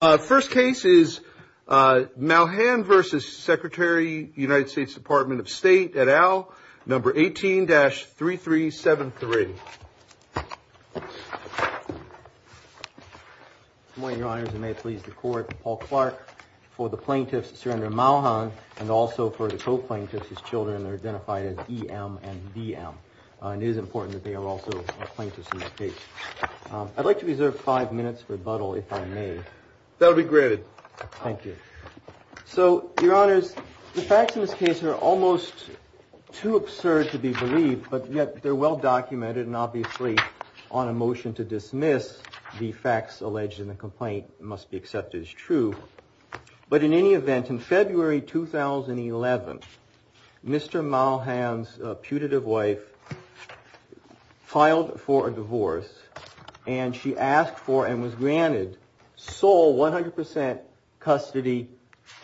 First case is Malhan v. Secretary United States Department of State et al., number 18-3373. Good morning, Your Honors, and may it please the Court, Paul Clark. For the plaintiffs, Surrender Malhan, and also for the co-plaintiffs, his children are identified as E.M. and D.M. It is important that they are also plaintiffs in their case. I'd like to reserve five minutes for rebuttal, if I may. That would be great. Thank you. So, Your Honors, the facts in this case are almost too absurd to be believed, but yet they're well documented, and obviously on a motion to dismiss, the facts alleged in the complaint must be accepted as true. But in any event, in February 2011, Mr. Malhan's putative wife filed for a divorce, and she asked for and was granted sole 100% custody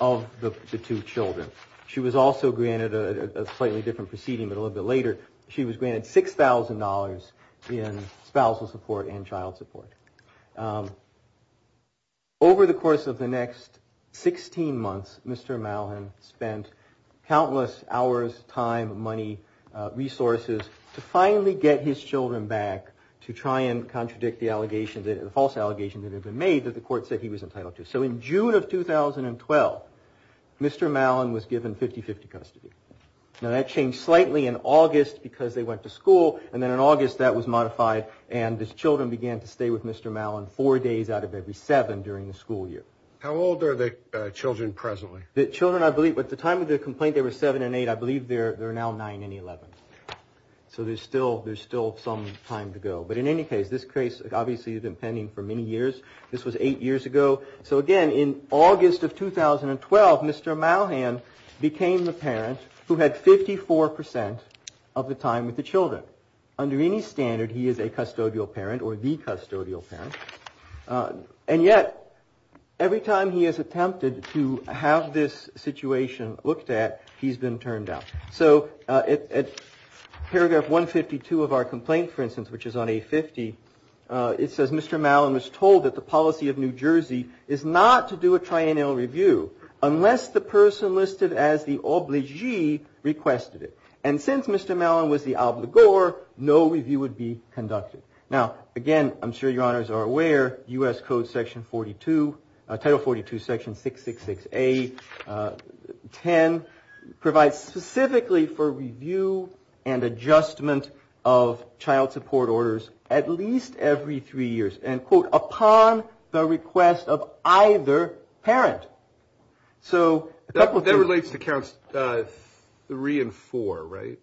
of the two children. She was also granted a slightly different proceeding, but a little bit later, she was granted $6,000 in spousal support and child support. Over the course of the next 16 months, Mr. Malhan spent countless hours, time, money, resources, to finally get his children back to try and contradict the allegations, the false allegations that had been made that the Court said he was entitled to. So in June of 2012, Mr. Malhan was given 50-50 custody. Now, that changed slightly in August because they went to school, and then in August, that was modified, and his children began to stay with Mr. Malhan four days out of every seven during the school year. How old are the children presently? The children, I believe, at the time of the complaint, they were seven and eight. I believe they're now nine and eleven. So there's still some time to go. But in any case, this case obviously has been pending for many years. This was eight years ago. So again, in August of 2012, Mr. Malhan became the parent who had 54% of the time with the children. Under any standard, he is a custodial parent or the custodial parent. And yet, every time he has attempted to have this situation looked at, he's been turned down. So at paragraph 152 of our complaint, for instance, which is on A50, it says Mr. Malhan was told that the policy of New Jersey is not to do a triennial review unless the person listed as the obligee requested it. And since Mr. Malhan was the obligor, no review would be conducted. Now, again, I'm sure your honors are aware, U.S. Code section 42, Title 42, section 666A, 10, provides specifically for review and adjustment of child support orders at least every three years and, quote, upon the request of either parent. So that relates to counts three and four, right?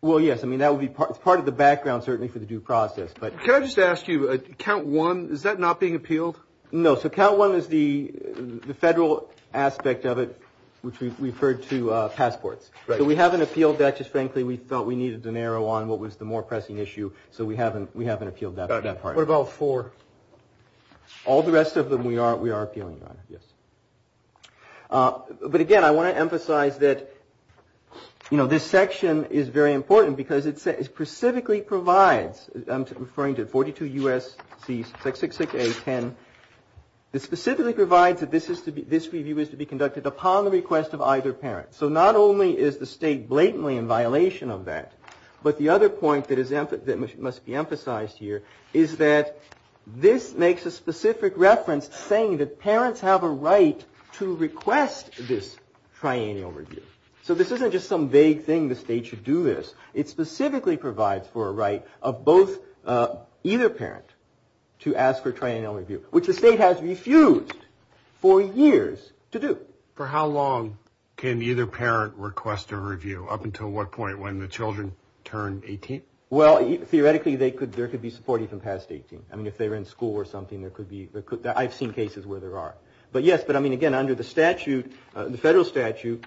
Well, yes. I mean, that would be part of the background, certainly, for the due process. But can I just ask you, count one, is that not being appealed? No. So count one is the federal aspect of it, which we've referred to passports. Right. So we haven't appealed that. Just frankly, we felt we needed to narrow on what was the more pressing issue. So we haven't appealed that part. What about four? All the rest of them we are appealing on, yes. But, again, I want to emphasize that, you know, this section is very important because it specifically provides, I'm referring to 42 U.S.C. 666A, 10. It specifically provides that this review is to be conducted upon the request of either parent. So not only is the state blatantly in violation of that, but the other point that must be emphasized here is that this makes a specific reference saying that parents have a right to request this triennial review. So this isn't just some vague thing the state should do this. It specifically provides for a right of both either parent to ask for a triennial review, which the state has refused for years to do. For how long can either parent request a review? Up until what point, when the children turn 18? Well, theoretically, there could be support even past 18. I mean, if they were in school or something, there could be. I've seen cases where there are. But, yes, but, I mean, again, under the statute, the federal statute,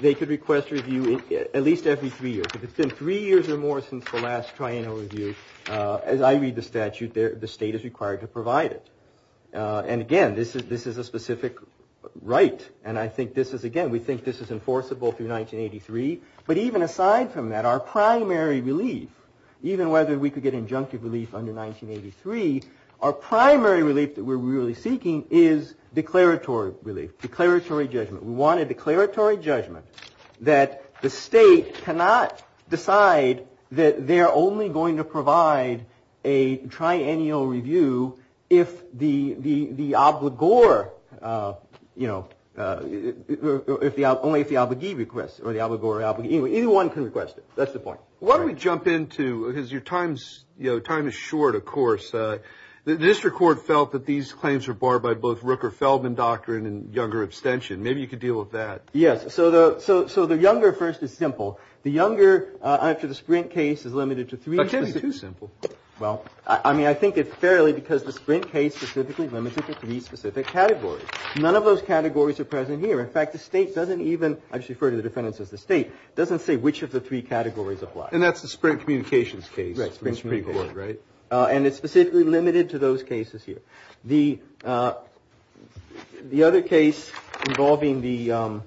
they could request a review at least every three years. If it's been three years or more since the last triennial review, as I read the statute, the state is required to provide it. And, again, this is a specific right. And I think this is, again, we think this is enforceable through 1983. But even aside from that, our primary relief, even whether we could get injunctive relief under 1983, our primary relief that we're really seeking is declaratory relief, declaratory judgment. We want a declaratory judgment that the state cannot decide that they're only going to provide a triennial review if the obligor, you know, only if the obligee requests, or the obligor. Either one can request it. That's the point. Why don't we jump into, because your time is short, of course. The district court felt that these claims were barred by both Rooker-Feldman doctrine and younger abstention. Maybe you could deal with that. Yes. So the younger first is simple. The younger, after the Sprint case, is limited to three. But it can't be too simple. Well, I mean, I think it's fairly because the Sprint case specifically limits it to three specific categories. None of those categories are present here. In fact, the state doesn't even, I just refer to the defendants as the state, doesn't say which of the three categories apply. And that's the Sprint communications case. Right. And it's specifically limited to those cases here. The other case involving the ‑‑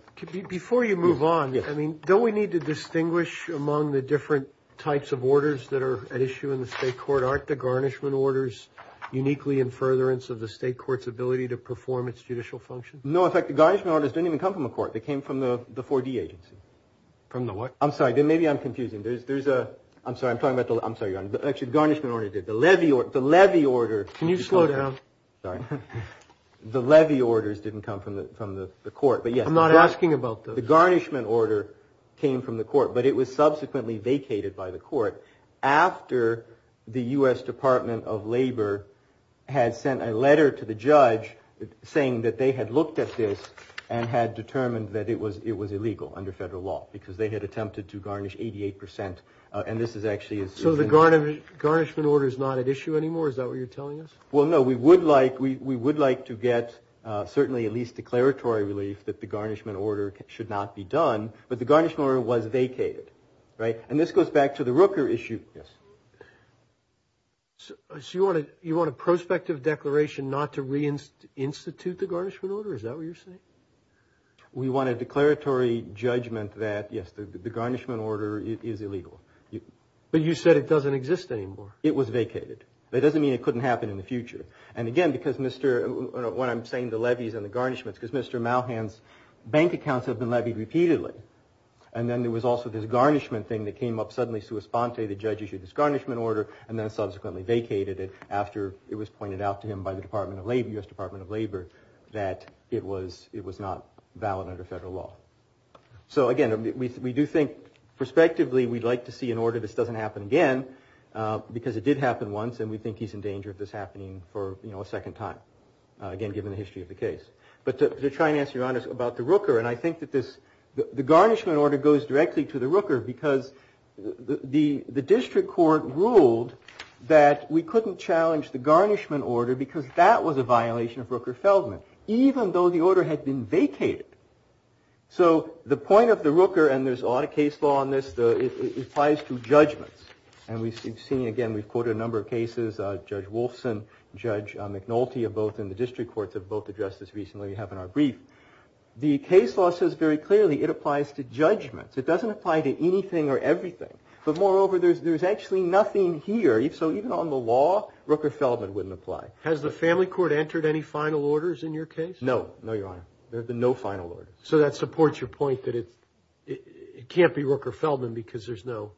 Before you move on, I mean, don't we need to distinguish among the different types of orders that are at issue in the state court? Aren't the garnishment orders uniquely in furtherance of the state court's ability to perform its judicial function? No, in fact, the garnishment orders didn't even come from the court. They came from the 4D agency. From the what? I'm sorry, maybe I'm confusing. There's a, I'm sorry, I'm talking about, I'm sorry, actually, the garnishment order did. The levy order. Can you slow down? Sorry. The levy orders didn't come from the court, but yes. I'm not asking about those. The garnishment order came from the court, but it was subsequently vacated by the court after the U.S. Department of Labor had sent a letter to the judge saying that they had looked at this and had determined that it was illegal under federal law because they had attempted to garnish 88 percent. And this is actually. So the garnishment order is not at issue anymore? Is that what you're telling us? Well, no, we would like we would like to get certainly at least declaratory relief that the garnishment order should not be done. But the garnishment order was vacated. Right. And this goes back to the Rooker issue. Yes. So you want to you want a prospective declaration not to reinstitute the garnishment order? Is that what you're saying? We want a declaratory judgment that, yes, the garnishment order is illegal. But you said it doesn't exist anymore. It was vacated. That doesn't mean it couldn't happen in the future. And again, because Mr. when I'm saying the levies and the garnishments, because Mr. Malhan's bank accounts have been levied repeatedly. And then there was also this garnishment thing that came up. Suddenly, sua sponte, the judge issued this garnishment order and then subsequently vacated it after it was pointed out to him by the Department of Labor, U.S. Department of Labor, that it was it was not valid under federal law. So, again, we do think prospectively we'd like to see an order this doesn't happen again because it did happen once. And we think he's in danger of this happening for a second time, again, given the history of the case. But they're trying to ask you about the Rooker. And I think that this the garnishment order goes directly to the Rooker because the district court ruled that we couldn't challenge the garnishment order because that was a violation of Rooker Feldman, even though the order had been vacated. So the point of the Rooker and there's a lot of case law on this applies to judgments. And we've seen again, we've quoted a number of cases, Judge Wolfson, Judge McNulty, both in the district courts have both addressed this recently. We have in our brief. The case law says very clearly it applies to judgments. It doesn't apply to anything or everything. But moreover, there's there's actually nothing here. So even on the law, Rooker Feldman wouldn't apply. Has the family court entered any final orders in your case? No, no, your honor. There's no final order. So that supports your point that it can't be Rooker Feldman because there's no.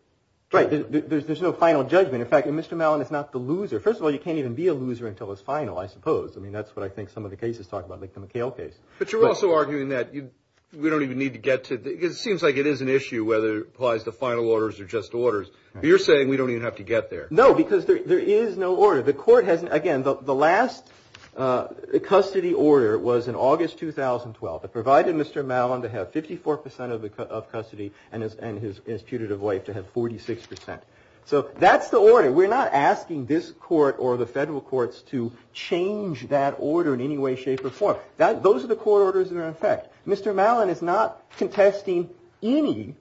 Right. There's no final judgment. In fact, Mr. Mellon is not the loser. First of all, you can't even be a loser until it's final, I suppose. I mean, that's what I think some of the cases talk about, like the McHale case. But you're also arguing that we don't even need to get to it. It seems like it is an issue whether it applies to final orders or just orders. You're saying we don't even have to get there. No, because there is no order. The court has, again, the last custody order was in August 2012. It provided Mr. Mellon to have 54 percent of custody and his putative wife to have 46 percent. So that's the order. We're not asking this court or the federal courts to change that order in any way, shape or form. Those are the court orders that are in effect. Mr. Mellon is not contesting any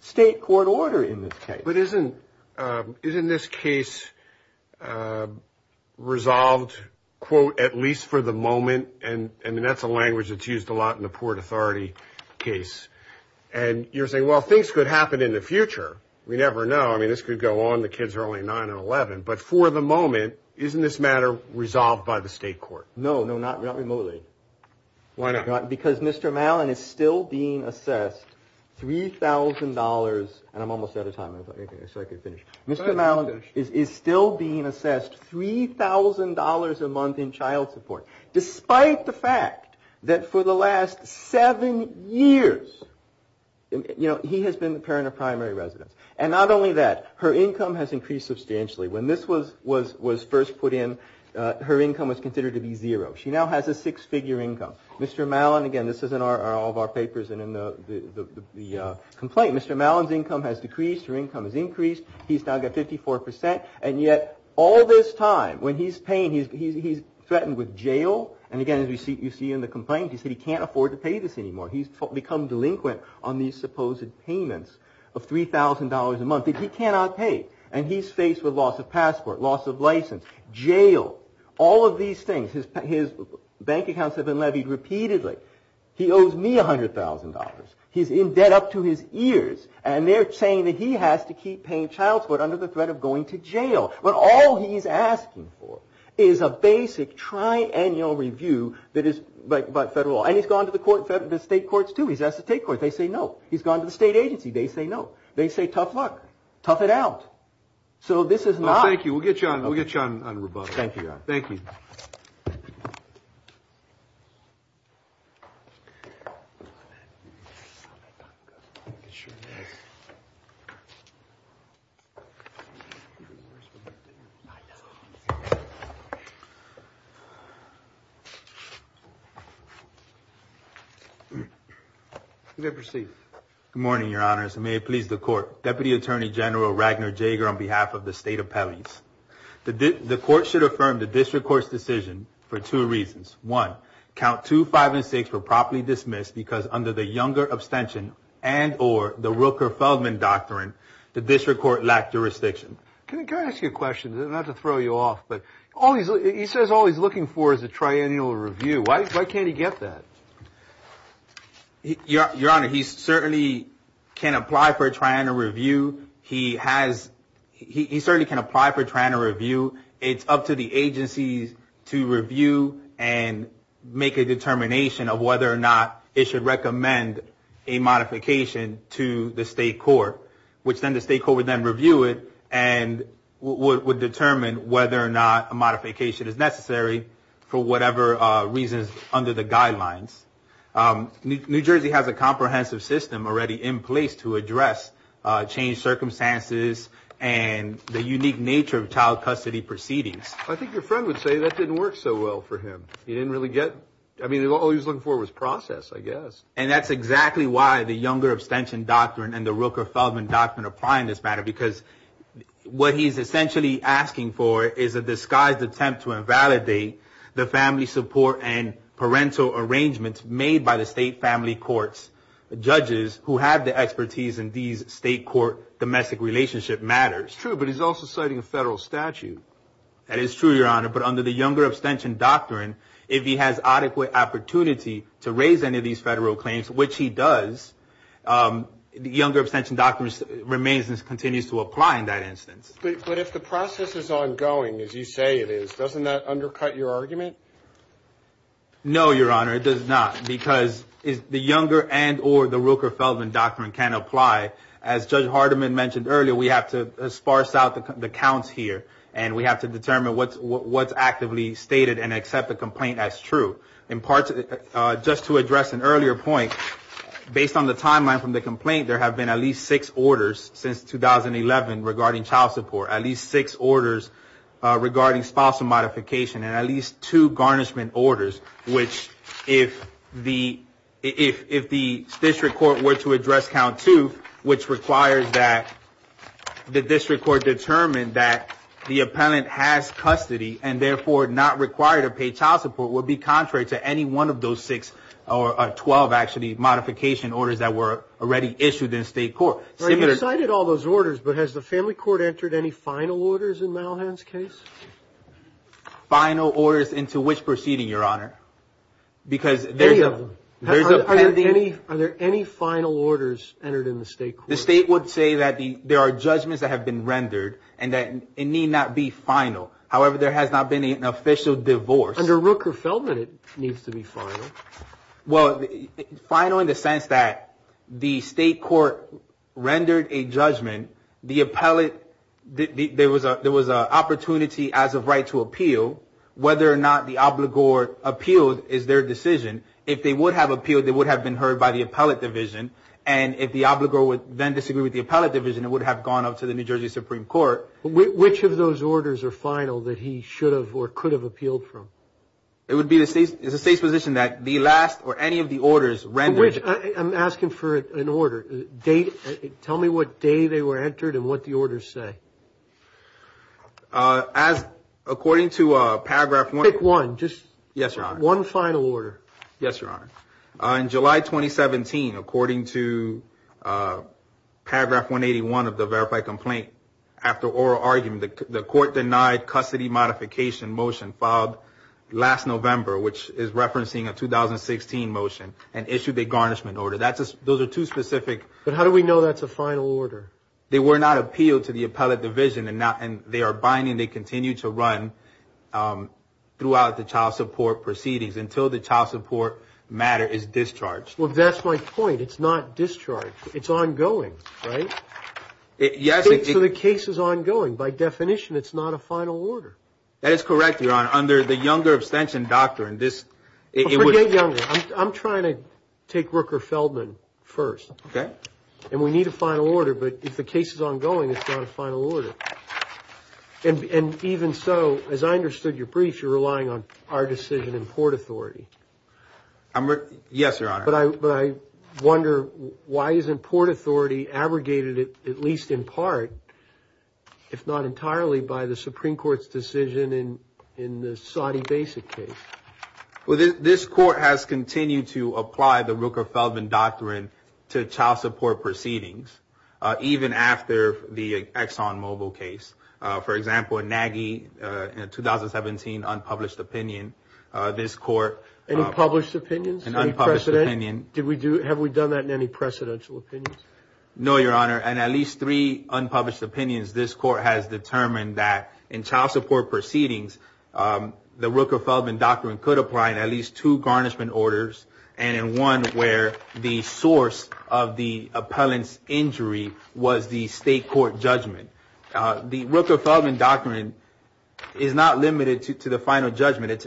state court order in this case. But isn't this case resolved, quote, at least for the moment? And that's a language that's used a lot in the Port Authority case. And you're saying, well, things could happen in the future. We never know. I mean, this could go on. The kids are only 9 and 11. But for the moment, isn't this matter resolved by the state court? No, no, not remotely. Why not? Because Mr. Mellon is still being assessed $3,000. And I'm almost out of time. Mr. Mellon is still being assessed $3,000 a month in child support, despite the fact that for the last seven years, you know, he has been the parent of primary residents. And not only that, her income has increased substantially. When this was first put in, her income was considered to be zero. She now has a six figure income. Mr. Mellon, again, this is in all of our papers and in the complaint, Mr. Mellon's income has decreased. Her income has increased. He's now got 54%. And yet all this time, when he's paying, he's threatened with jail. And again, as you see in the complaint, he said he can't afford to pay this anymore. He's become delinquent on these supposed payments of $3,000 a month that he cannot pay. And he's faced with loss of passport, loss of license, jail, all of these things. His bank accounts have been levied repeatedly. He owes me $100,000. He's in debt up to his ears. And they're saying that he has to keep paying child support under the threat of going to jail. But all he's asking for is a basic tri-annual review by federal law. And he's gone to the state courts, too. He's asked to take court. They say no. He's gone to the state agency. They say no. They say tough luck. Tough it out. So this is not. Thank you. We'll get you on rebuttal. Thank you. Thank you. You may proceed. Good morning, your honors. And may it please the court. Deputy Attorney General Ragnar Jager on behalf of the state appellees. The court should affirm the district court's decision for two reasons. One, count 2, 5, and 6 were properly dismissed because under the Younger Abstention and or the Rooker-Feldman Doctrine, the district court lacked jurisdiction. Can I ask you a question? Not to throw you off, but he says all he's looking for is a tri-annual review. Why can't he get that? Your honor, he certainly can apply for a tri-annual review. He certainly can apply for a tri-annual review. It's up to the agencies to review and make a determination of whether or not it should recommend a modification to the state court, which then the state court would then review it and would determine whether or not a modification is necessary for whatever reasons under the guidelines. New Jersey has a comprehensive system already in place to address changed circumstances and the unique nature of child custody proceedings. I think your friend would say that didn't work so well for him. He didn't really get, I mean, all he was looking for was process, I guess. And that's exactly why the Younger Abstention Doctrine and the Rooker-Feldman Doctrine apply in this matter, because what he's essentially asking for is a disguised attempt to invalidate the family support and parental arrangements made by the state family court's judges who have the expertise in these state court domestic relationship matters. It's true, but he's also citing a federal statute. That is true, your honor, but under the Younger Abstention Doctrine, if he has adequate opportunity to raise any of these federal claims, which he does, the Younger Abstention Doctrine remains and continues to apply in that instance. But if the process is ongoing, as you say it is, doesn't that undercut your argument? No, your honor, it does not, because the Younger and or the Rooker-Feldman Doctrine can apply. As Judge Hardiman mentioned earlier, we have to sparse out the counts here, and we have to determine what's actively stated and accept the complaint as true. Just to address an earlier point, based on the timeline from the complaint, there have been at least six orders since 2011 regarding child support, at least six orders regarding spousal modification and at least two garnishment orders, which if the district court were to address count two, which requires that the district court determine that the appellant has custody and therefore not required to pay child support would be contrary to any one of those six or 12 actually modification orders that were already issued in state court. You cited all those orders, but has the family court entered any final orders in Malhan's case? Final orders into which proceeding, your honor? Any of them. Are there any final orders entered in the state court? The state would say that there are judgments that have been rendered and that it need not be final. However, there has not been an official divorce. Under Rooker-Feldman, it needs to be final. Well, final in the sense that the state court rendered a judgment. The appellate, there was an opportunity as of right to appeal. Whether or not the obligor appealed is their decision. If they would have appealed, they would have been heard by the appellate division. And if the obligor would then disagree with the appellate division, it would have gone up to the New Jersey Supreme Court. Which of those orders are final that he should have or could have appealed from? It would be the state's position that the last or any of the orders rendered. Which I'm asking for an order date. Tell me what day they were entered and what the orders say. As according to Paragraph 1, just one final order. Yes, your honor. In July 2017, according to Paragraph 181 of the verified complaint, after oral argument, the court denied custody modification motion filed last November, which is referencing a 2016 motion, and issued a garnishment order. Those are two specific. But how do we know that's a final order? They were not appealed to the appellate division. And they are binding. They continue to run throughout the child support proceedings until the child support matter is discharged. Well, that's my point. It's not discharged. It's ongoing, right? Yes. So the case is ongoing. By definition, it's not a final order. That is correct, your honor. Under the Younger abstention doctrine, this – Forget Younger. I'm trying to take Rooker-Feldman first. Okay. And we need a final order. But if the case is ongoing, it's not a final order. And even so, as I understood your brief, you're relying on our decision in Port Authority. Yes, your honor. But I wonder, why isn't Port Authority abrogated at least in part, if not entirely, by the Supreme Court's decision in the Saudi Basic case? Well, this court has continued to apply the Rooker-Feldman doctrine to child support proceedings, even after the ExxonMobil case. For example, in Nagy, in a 2017 unpublished opinion, this court – Any published opinions? An unpublished opinion. Did we do – have we done that in any precedential opinions? No, your honor. And at least three unpublished opinions, this court has determined that in child support proceedings, the Rooker-Feldman doctrine could apply in at least two garnishment orders, and in one where the source of the appellant's injury was the state court judgment. The Rooker-Feldman doctrine is not limited to the final judgment.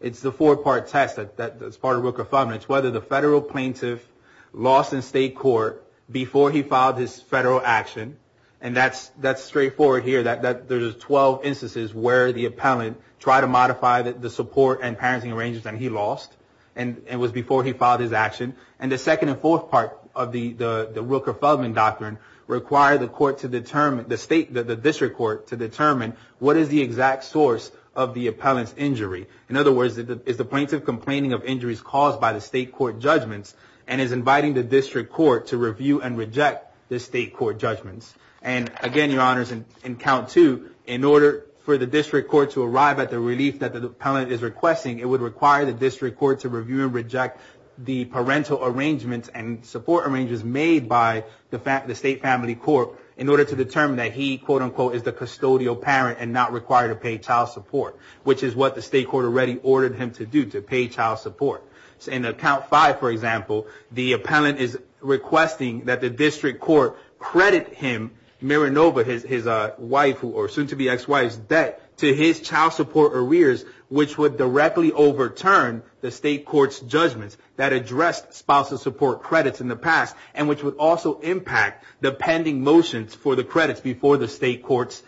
It's the four-part test that's part of Rooker-Feldman. It's whether the federal plaintiff lost in state court before he filed his federal action. And that's straightforward here. There's 12 instances where the appellant tried to modify the support and parenting arrangements, and he lost. And it was before he filed his action. And the second and fourth part of the Rooker-Feldman doctrine require the court to determine – the district court to determine what is the exact source of the appellant's injury. In other words, is the plaintiff complaining of injuries caused by the state court judgments and is inviting the district court to review and reject the state court judgments. And again, your honors, in count two, in order for the district court to arrive at the relief that the appellant is requesting, it would require the district court to review and reject the parental arrangements and support arrangements made by the state family court in order to determine that he, quote-unquote, is the custodial parent and not required to pay child support, which is what the state court already ordered him to do, to pay child support. In count five, for example, the appellant is requesting that the district court credit him, Marinova, his wife, or soon-to-be ex-wife's debt to his child support arrears, which would directly overturn the state court's judgments that addressed spousal support credits in the past and which would also impact the pending motions for the credits before the state courts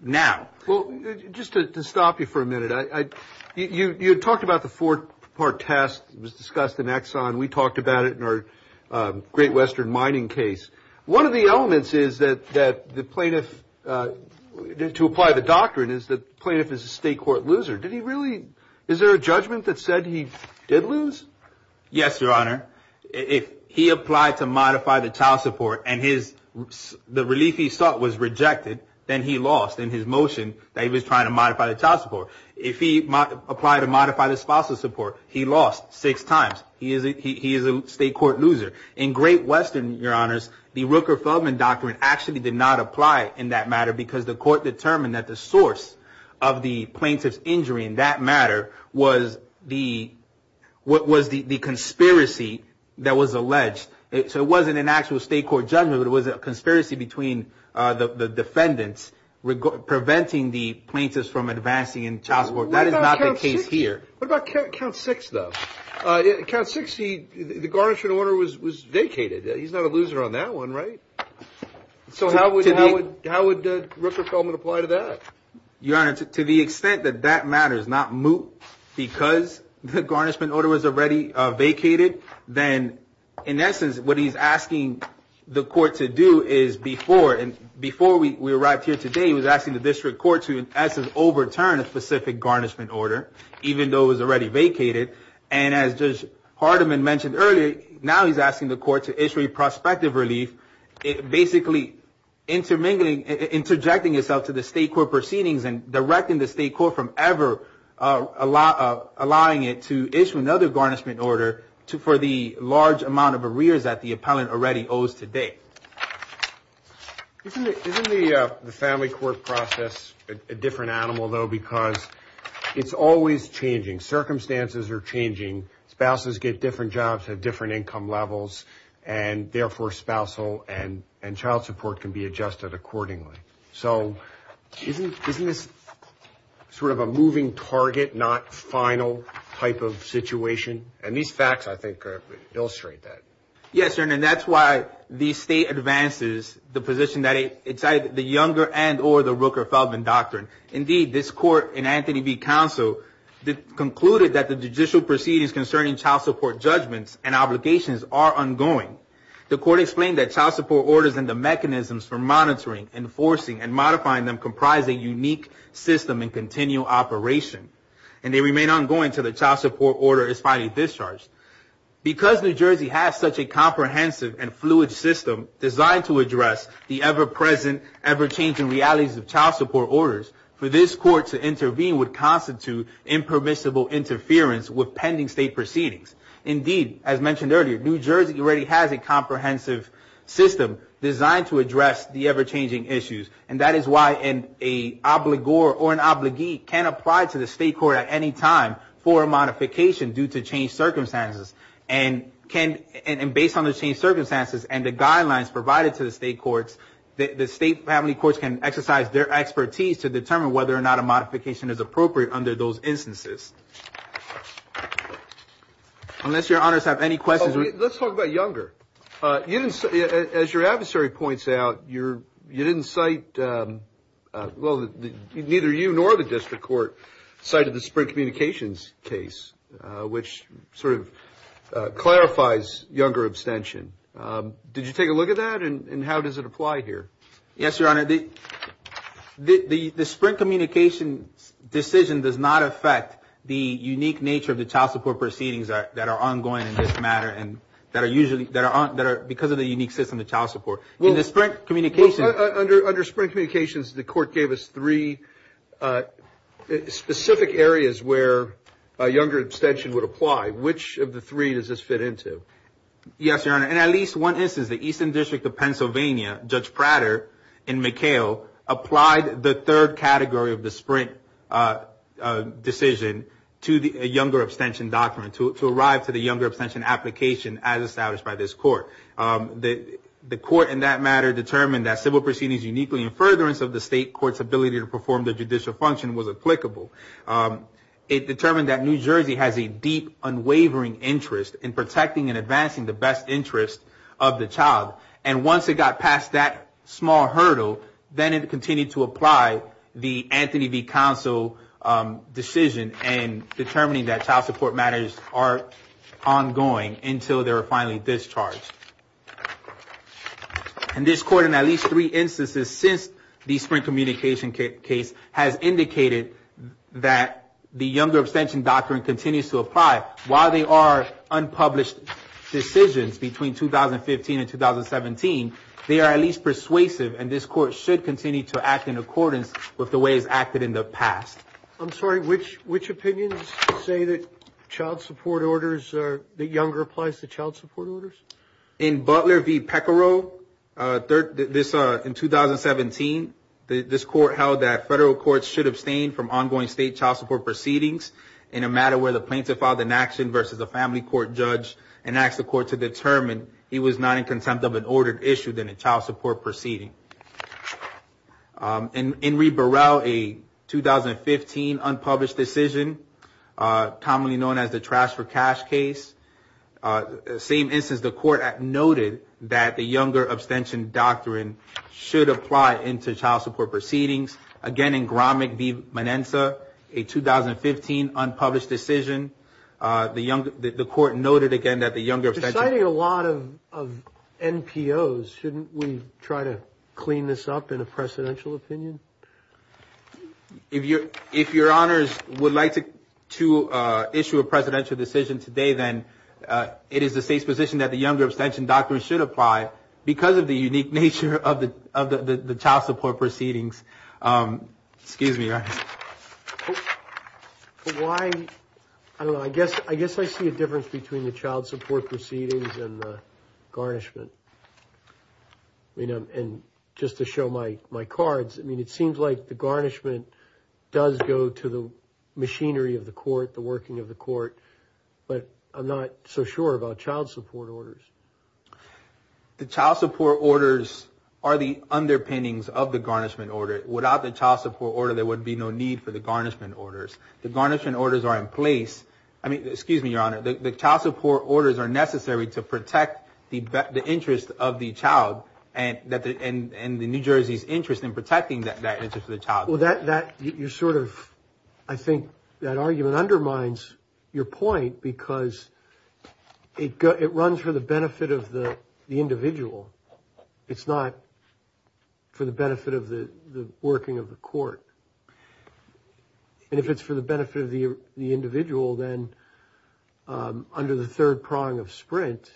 now. Well, just to stop you for a minute, you talked about the four-part test that was discussed in Exxon. We talked about it in our Great Western Mining case. One of the elements is that the plaintiff – to apply the doctrine is the plaintiff is a state court loser. Did he really – is there a judgment that said he did lose? Yes, Your Honor. If he applied to modify the child support and the relief he sought was rejected, then he lost in his motion that he was trying to modify the child support. If he applied to modify the spousal support, he lost six times. He is a state court loser. In Great Western, Your Honors, the Rooker-Feldman doctrine actually did not apply in that matter because the court determined that the source of the plaintiff's injury in that matter was the conspiracy that was alleged. So it wasn't an actual state court judgment, but it was a conspiracy between the defendants preventing the plaintiffs from advancing in child support. That is not the case here. What about count six, though? Count six, the garnishing order was vacated. He's not a loser on that one, right? So how would Rooker-Feldman apply to that? Your Honor, to the extent that that matter is not moot because the garnishment order was already vacated, then in essence what he's asking the court to do is before we arrived here today, he was asking the district court to in essence overturn a specific garnishment order, even though it was already vacated. And as Judge Hardiman mentioned earlier, now he's asking the court to issue a prospective relief, basically interjecting itself to the state court proceedings and directing the state court from ever allowing it to issue another garnishment order for the large amount of arrears that the appellant already owes today. Isn't the family court process a different animal, though, because it's always changing. Circumstances are changing. Spouses get different jobs at different income levels, and therefore, spousal and child support can be adjusted accordingly. So isn't this sort of a moving target, not final type of situation? And these facts, I think, illustrate that. Yes, Your Honor, and that's why the state advances the position that it's either the younger end or the Rooker-Feldman doctrine. Indeed, this court in Anthony V. Counsel concluded that the judicial proceedings concerning child support judgments and obligations are ongoing. The court explained that child support orders and the mechanisms for monitoring, enforcing, and modifying them comprise a unique system and continual operation, and they remain ongoing until the child support order is finally discharged. Because New Jersey has such a comprehensive and fluid system designed to address the ever-present, ever-changing realities of child support orders, for this court to intervene would constitute impermissible interference with pending state proceedings. Indeed, as mentioned earlier, New Jersey already has a comprehensive system designed to address the ever-changing issues, and that is why an obligor or an obligee can apply to the state court at any time for a modification due to changed circumstances, and based on the changed circumstances and the guidelines provided to the state courts, the state family courts can exercise their expertise to determine whether or not a modification is appropriate under those instances. Unless your honors have any questions. Let's talk about younger. As your adversary points out, you didn't cite, well, neither you nor the district court cited the Sprint Communications case, which sort of clarifies younger abstention. Did you take a look at that, and how does it apply here? Yes, your honor. The Sprint Communications decision does not affect the unique nature of the child support proceedings that are ongoing in this matter and that are because of the unique system of child support. In the Sprint Communications. Under Sprint Communications, the court gave us three specific areas where younger abstention would apply. Which of the three does this fit into? Yes, your honor. In at least one instance, the Eastern District of Pennsylvania, Judge Prater and McHale, applied the third category of the Sprint decision to the younger abstention document to arrive to the younger abstention application as established by this court. The court in that matter determined that civil proceedings uniquely in furtherance of the state court's ability to perform the judicial function was applicable. It determined that New Jersey has a deep, unwavering interest in protecting and advancing the best interest of the child. And once it got past that small hurdle, then it continued to apply the Anthony V. Counsel decision in determining that child support matters are ongoing until they're finally discharged. And this court in at least three instances since the Sprint Communication case has indicated that the younger abstention doctrine continues to apply while they are unpublished decisions between 2015 and 2017. They are at least persuasive and this court should continue to act in accordance with the ways acted in the past. I'm sorry, which which opinions say that child support orders are the younger applies to child support orders? In Butler V. Pecoraro, in 2017, this court held that federal courts should abstain from ongoing state child support proceedings in a matter where the plaintiff filed an action versus a family court judge and asked the court to determine he was not in contempt of an ordered issue than a child support proceeding. In Enrique Burrell, a 2015 unpublished decision, commonly known as the Trash for Cash case, same instance, the court noted that the younger abstention doctrine should apply into child support proceedings. Again, in Gromick v. Manenza, a 2015 unpublished decision, the court noted again that the younger abstention. You're citing a lot of NPOs. Shouldn't we try to clean this up in a presidential opinion? If you're if your honors would like to to issue a presidential decision today, then it is the state's position that the younger abstention doctrine should apply because of the unique nature of the of the child support proceedings. Excuse me. Why? I don't know. I guess I guess I see a difference between the child support proceedings and the garnishment. You know, and just to show my my cards, I mean, it seems like the garnishment does go to the machinery of the court, the working of the court, but I'm not so sure about child support orders. The child support orders are the underpinnings of the garnishment order. Without the child support order, there would be no need for the garnishment orders. The garnishment orders are in place. I mean, excuse me, your honor, the child support orders are necessary to protect the interest of the child. And that and the New Jersey's interest in protecting that that interest of the child. Well, that that you're sort of I think that argument undermines your point because it it runs for the benefit of the individual. It's not. For the benefit of the working of the court. And if it's for the benefit of the individual, then under the third prong of Sprint,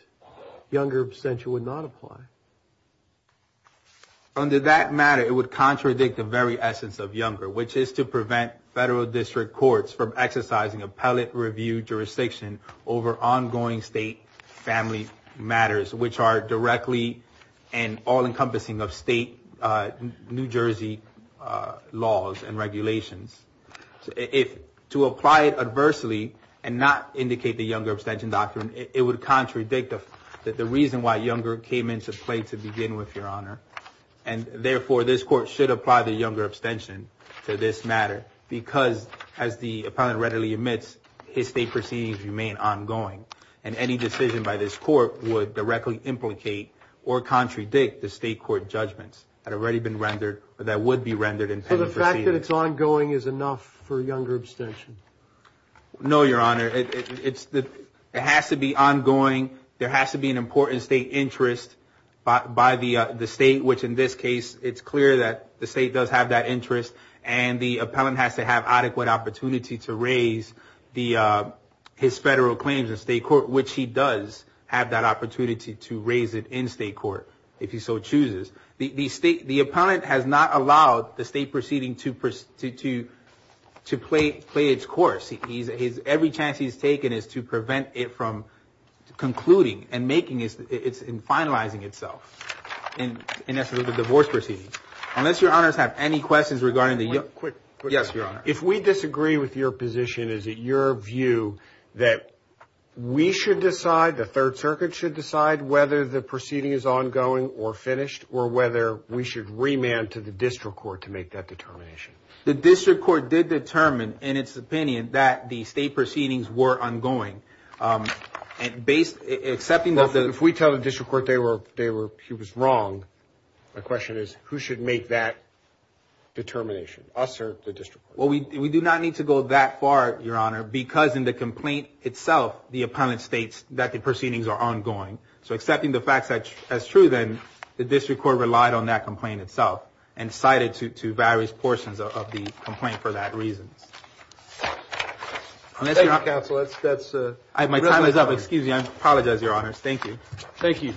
younger absentia would not apply. Under that matter, it would contradict the very essence of younger, which is to prevent federal district courts from exercising appellate review jurisdiction over ongoing state family matters, which are directly and all encompassing of state New Jersey laws and regulations. If to apply it adversely and not indicate the younger abstention doctrine, it would contradict that the reason why younger came into play to begin with your honor. And therefore, this court should apply the younger abstention to this matter, because as the appellant readily admits, his state proceedings remain ongoing. And any decision by this court would directly implicate or contradict the state court judgments had already been rendered. But that would be rendered in the fact that it's ongoing is enough for younger abstention. No, your honor. It's that it has to be ongoing. There has to be an important state interest by the state, which in this case, it's clear that the state does have that interest and the appellant has to have adequate opportunity to raise the. His federal claims in state court, which he does have that opportunity to raise it in state court. If he so chooses the state, the appellant has not allowed the state proceeding to pursue to to play, play its course. He's his every chance he's taken is to prevent it from concluding and making it's in finalizing itself. And in essence of the divorce proceedings, unless your honors have any questions regarding the quick. Yes, your honor. If we disagree with your position, is it your view that we should decide the Third Circuit should decide whether the proceeding is ongoing or finished or whether we should remand to the district court to make that determination? The district court did determine, in its opinion, that the state proceedings were ongoing and based accepting that. If we tell the district court they were they were he was wrong. The question is, who should make that determination us or the district? Well, we do not need to go that far, your honor, because in the complaint itself, the appellant states that the proceedings are ongoing. So accepting the facts as true, then the district court relied on that complaint itself and cited to to various portions of the complaint for that reason. That's that's my time is up. Excuse me. I apologize, your honors. Thank you. Thank you.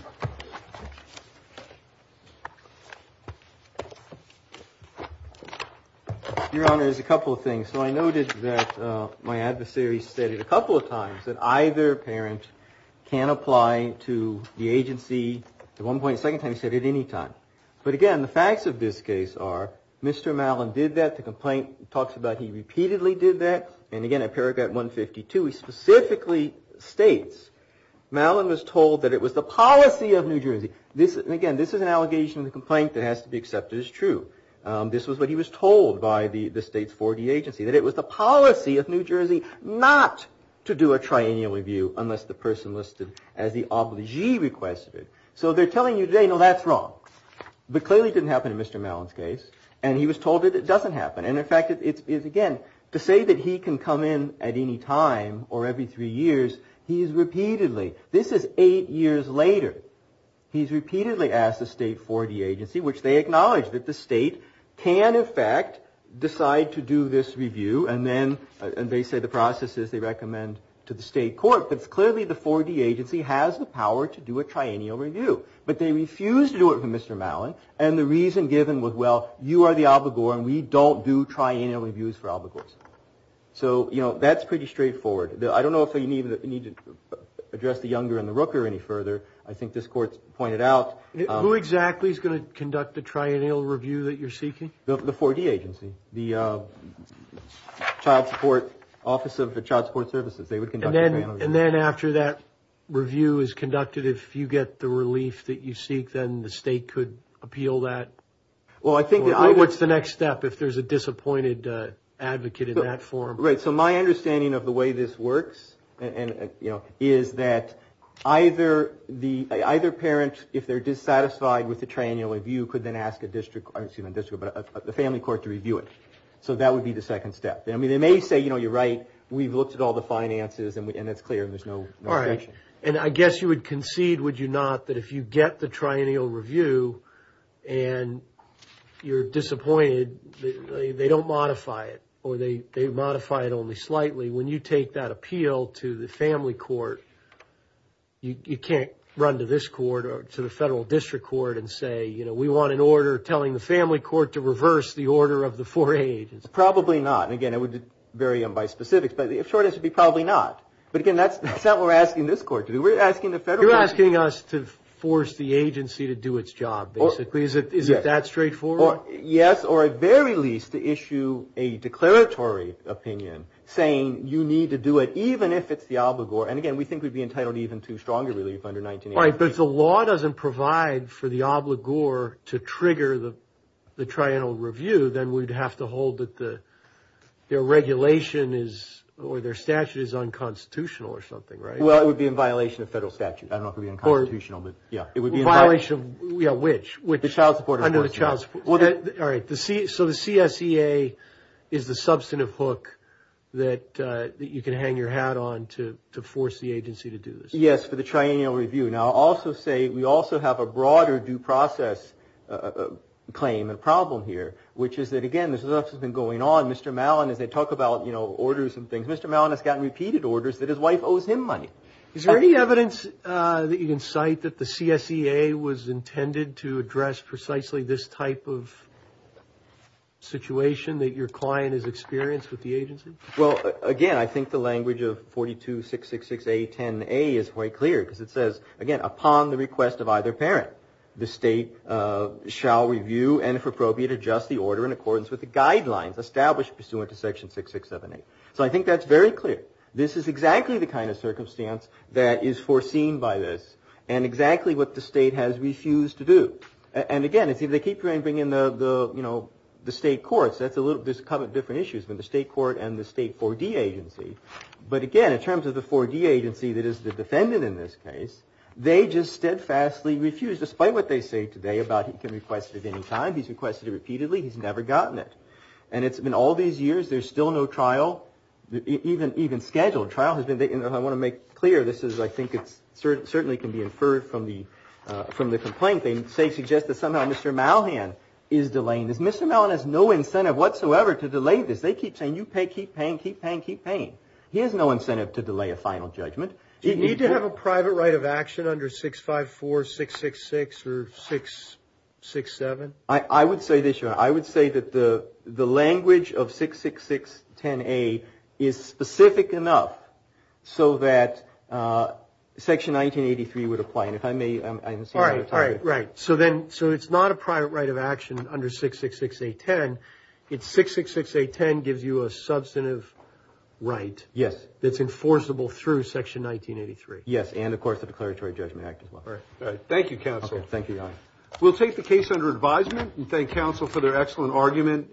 Your honor is a couple of things. So I noted that my adversary said it a couple of times that either parent can apply to the agency at one point. He repeatedly did that. And again, in paragraph 152, he specifically states Malin was told that it was the policy of New Jersey. This again, this is an allegation of the complaint that has to be accepted as true. This was what he was told by the state's 40 agency, that it was the policy of New Jersey not to do a triennial review unless the person listed as the obligee requested. So they're telling you they know that's wrong, but clearly didn't happen in Mr. Malin's case. And he was told that it doesn't happen. And in fact, it is again to say that he can come in at any time or every three years. He's repeatedly this is eight years later. He's repeatedly asked the state for the agency, which they acknowledge that the state can, in fact, decide to do this review. And then they say the processes they recommend to the state court. But clearly, the 40 agency has the power to do a triennial review. But they refuse to do it for Mr. Malin. And the reason given was, well, you are the obligor and we don't do triennial reviews for obligors. So, you know, that's pretty straightforward. I don't know if you need to address the younger and the Rooker any further. I think this court pointed out who exactly is going to conduct the triennial review that you're seeking. The 40 agency, the child support office of the Child Support Services. And then after that review is conducted, if you get the relief that you seek, then the state could appeal that. Well, I think what's the next step if there's a disappointed advocate in that form? Right. So my understanding of the way this works and, you know, is that either the either parent, if they're dissatisfied with the triennial review, could then ask a district or a district, but the family court to review it. So that would be the second step. I mean, they may say, you know, you're right. We've looked at all the finances and it's clear and there's no. All right. And I guess you would concede, would you not, that if you get the triennial review and you're disappointed, they don't modify it or they modify it only slightly when you take that appeal to the family court. You can't run to this court or to the federal district court and say, you know, we want an order telling the family court to reverse the order of the four agents. Probably not. And again, it would vary by specifics, but the short answer would be probably not. But again, that's not what we're asking this court to do. We're asking the federal. You're asking us to force the agency to do its job, basically. Is it that straightforward? Yes, or at very least to issue a declaratory opinion saying you need to do it even if it's the obligor. And again, we think we'd be entitled even to stronger relief under 1980. All right. But if the law doesn't provide for the obligor to trigger the triennial review, then we'd have to hold that the regulation is or their statute is unconstitutional or something, right? Well, it would be in violation of federal statute. I don't know if it would be unconstitutional. Yeah. Which? The child support enforcement. All right. So the CSEA is the substantive hook that you can hang your hat on to force the agency to do this. Yes, for the triennial review. Now, I'll also say we also have a broader due process claim and problem here, which is that, again, this has been going on. Mr. Malin, as they talk about, you know, orders and things, Mr. Malin has gotten repeated orders that his wife owes him money. Is there any evidence that you can cite that the CSEA was intended to address precisely this type of situation that your client is experienced with the agency? Well, again, I think the language of 42666A10A is quite clear because it says, again, upon the request of either parent, the state shall review and, if appropriate, adjust the order in accordance with the guidelines established pursuant to section 6678. So I think that's very clear. This is exactly the kind of circumstance that is foreseen by this and exactly what the state has refused to do. And again, if they keep trying to bring in the, you know, the state courts, there's a couple of different issues with the state court and the state 4D agency. But again, in terms of the 4D agency that is the defendant in this case, they just steadfastly refuse, despite what they say today about he can request it at any time. He's requested it repeatedly. He's never gotten it. And it's been all these years. There's still no trial, even scheduled. I want to make clear this is, I think it certainly can be inferred from the complaint. They suggest that somehow Mr. Malhan is delaying this. Mr. Malhan has no incentive whatsoever to delay this. They keep saying you pay, keep paying, keep paying, keep paying. He has no incentive to delay a final judgment. Do you need to have a private right of action under 654666 or 667? I would say this, Your Honor. I would say that the language of 66610A is specific enough so that section 1983 would apply. All right. So it's not a private right of action under 666810. It's 666810 gives you a substantive right that's enforceable through section 1983. Yes. And, of course, the Declaratory Judgment Act as well. All right. Thank you, counsel. Thank you, Your Honor. We'll take the case under advisement and thank counsel for their excellent argument.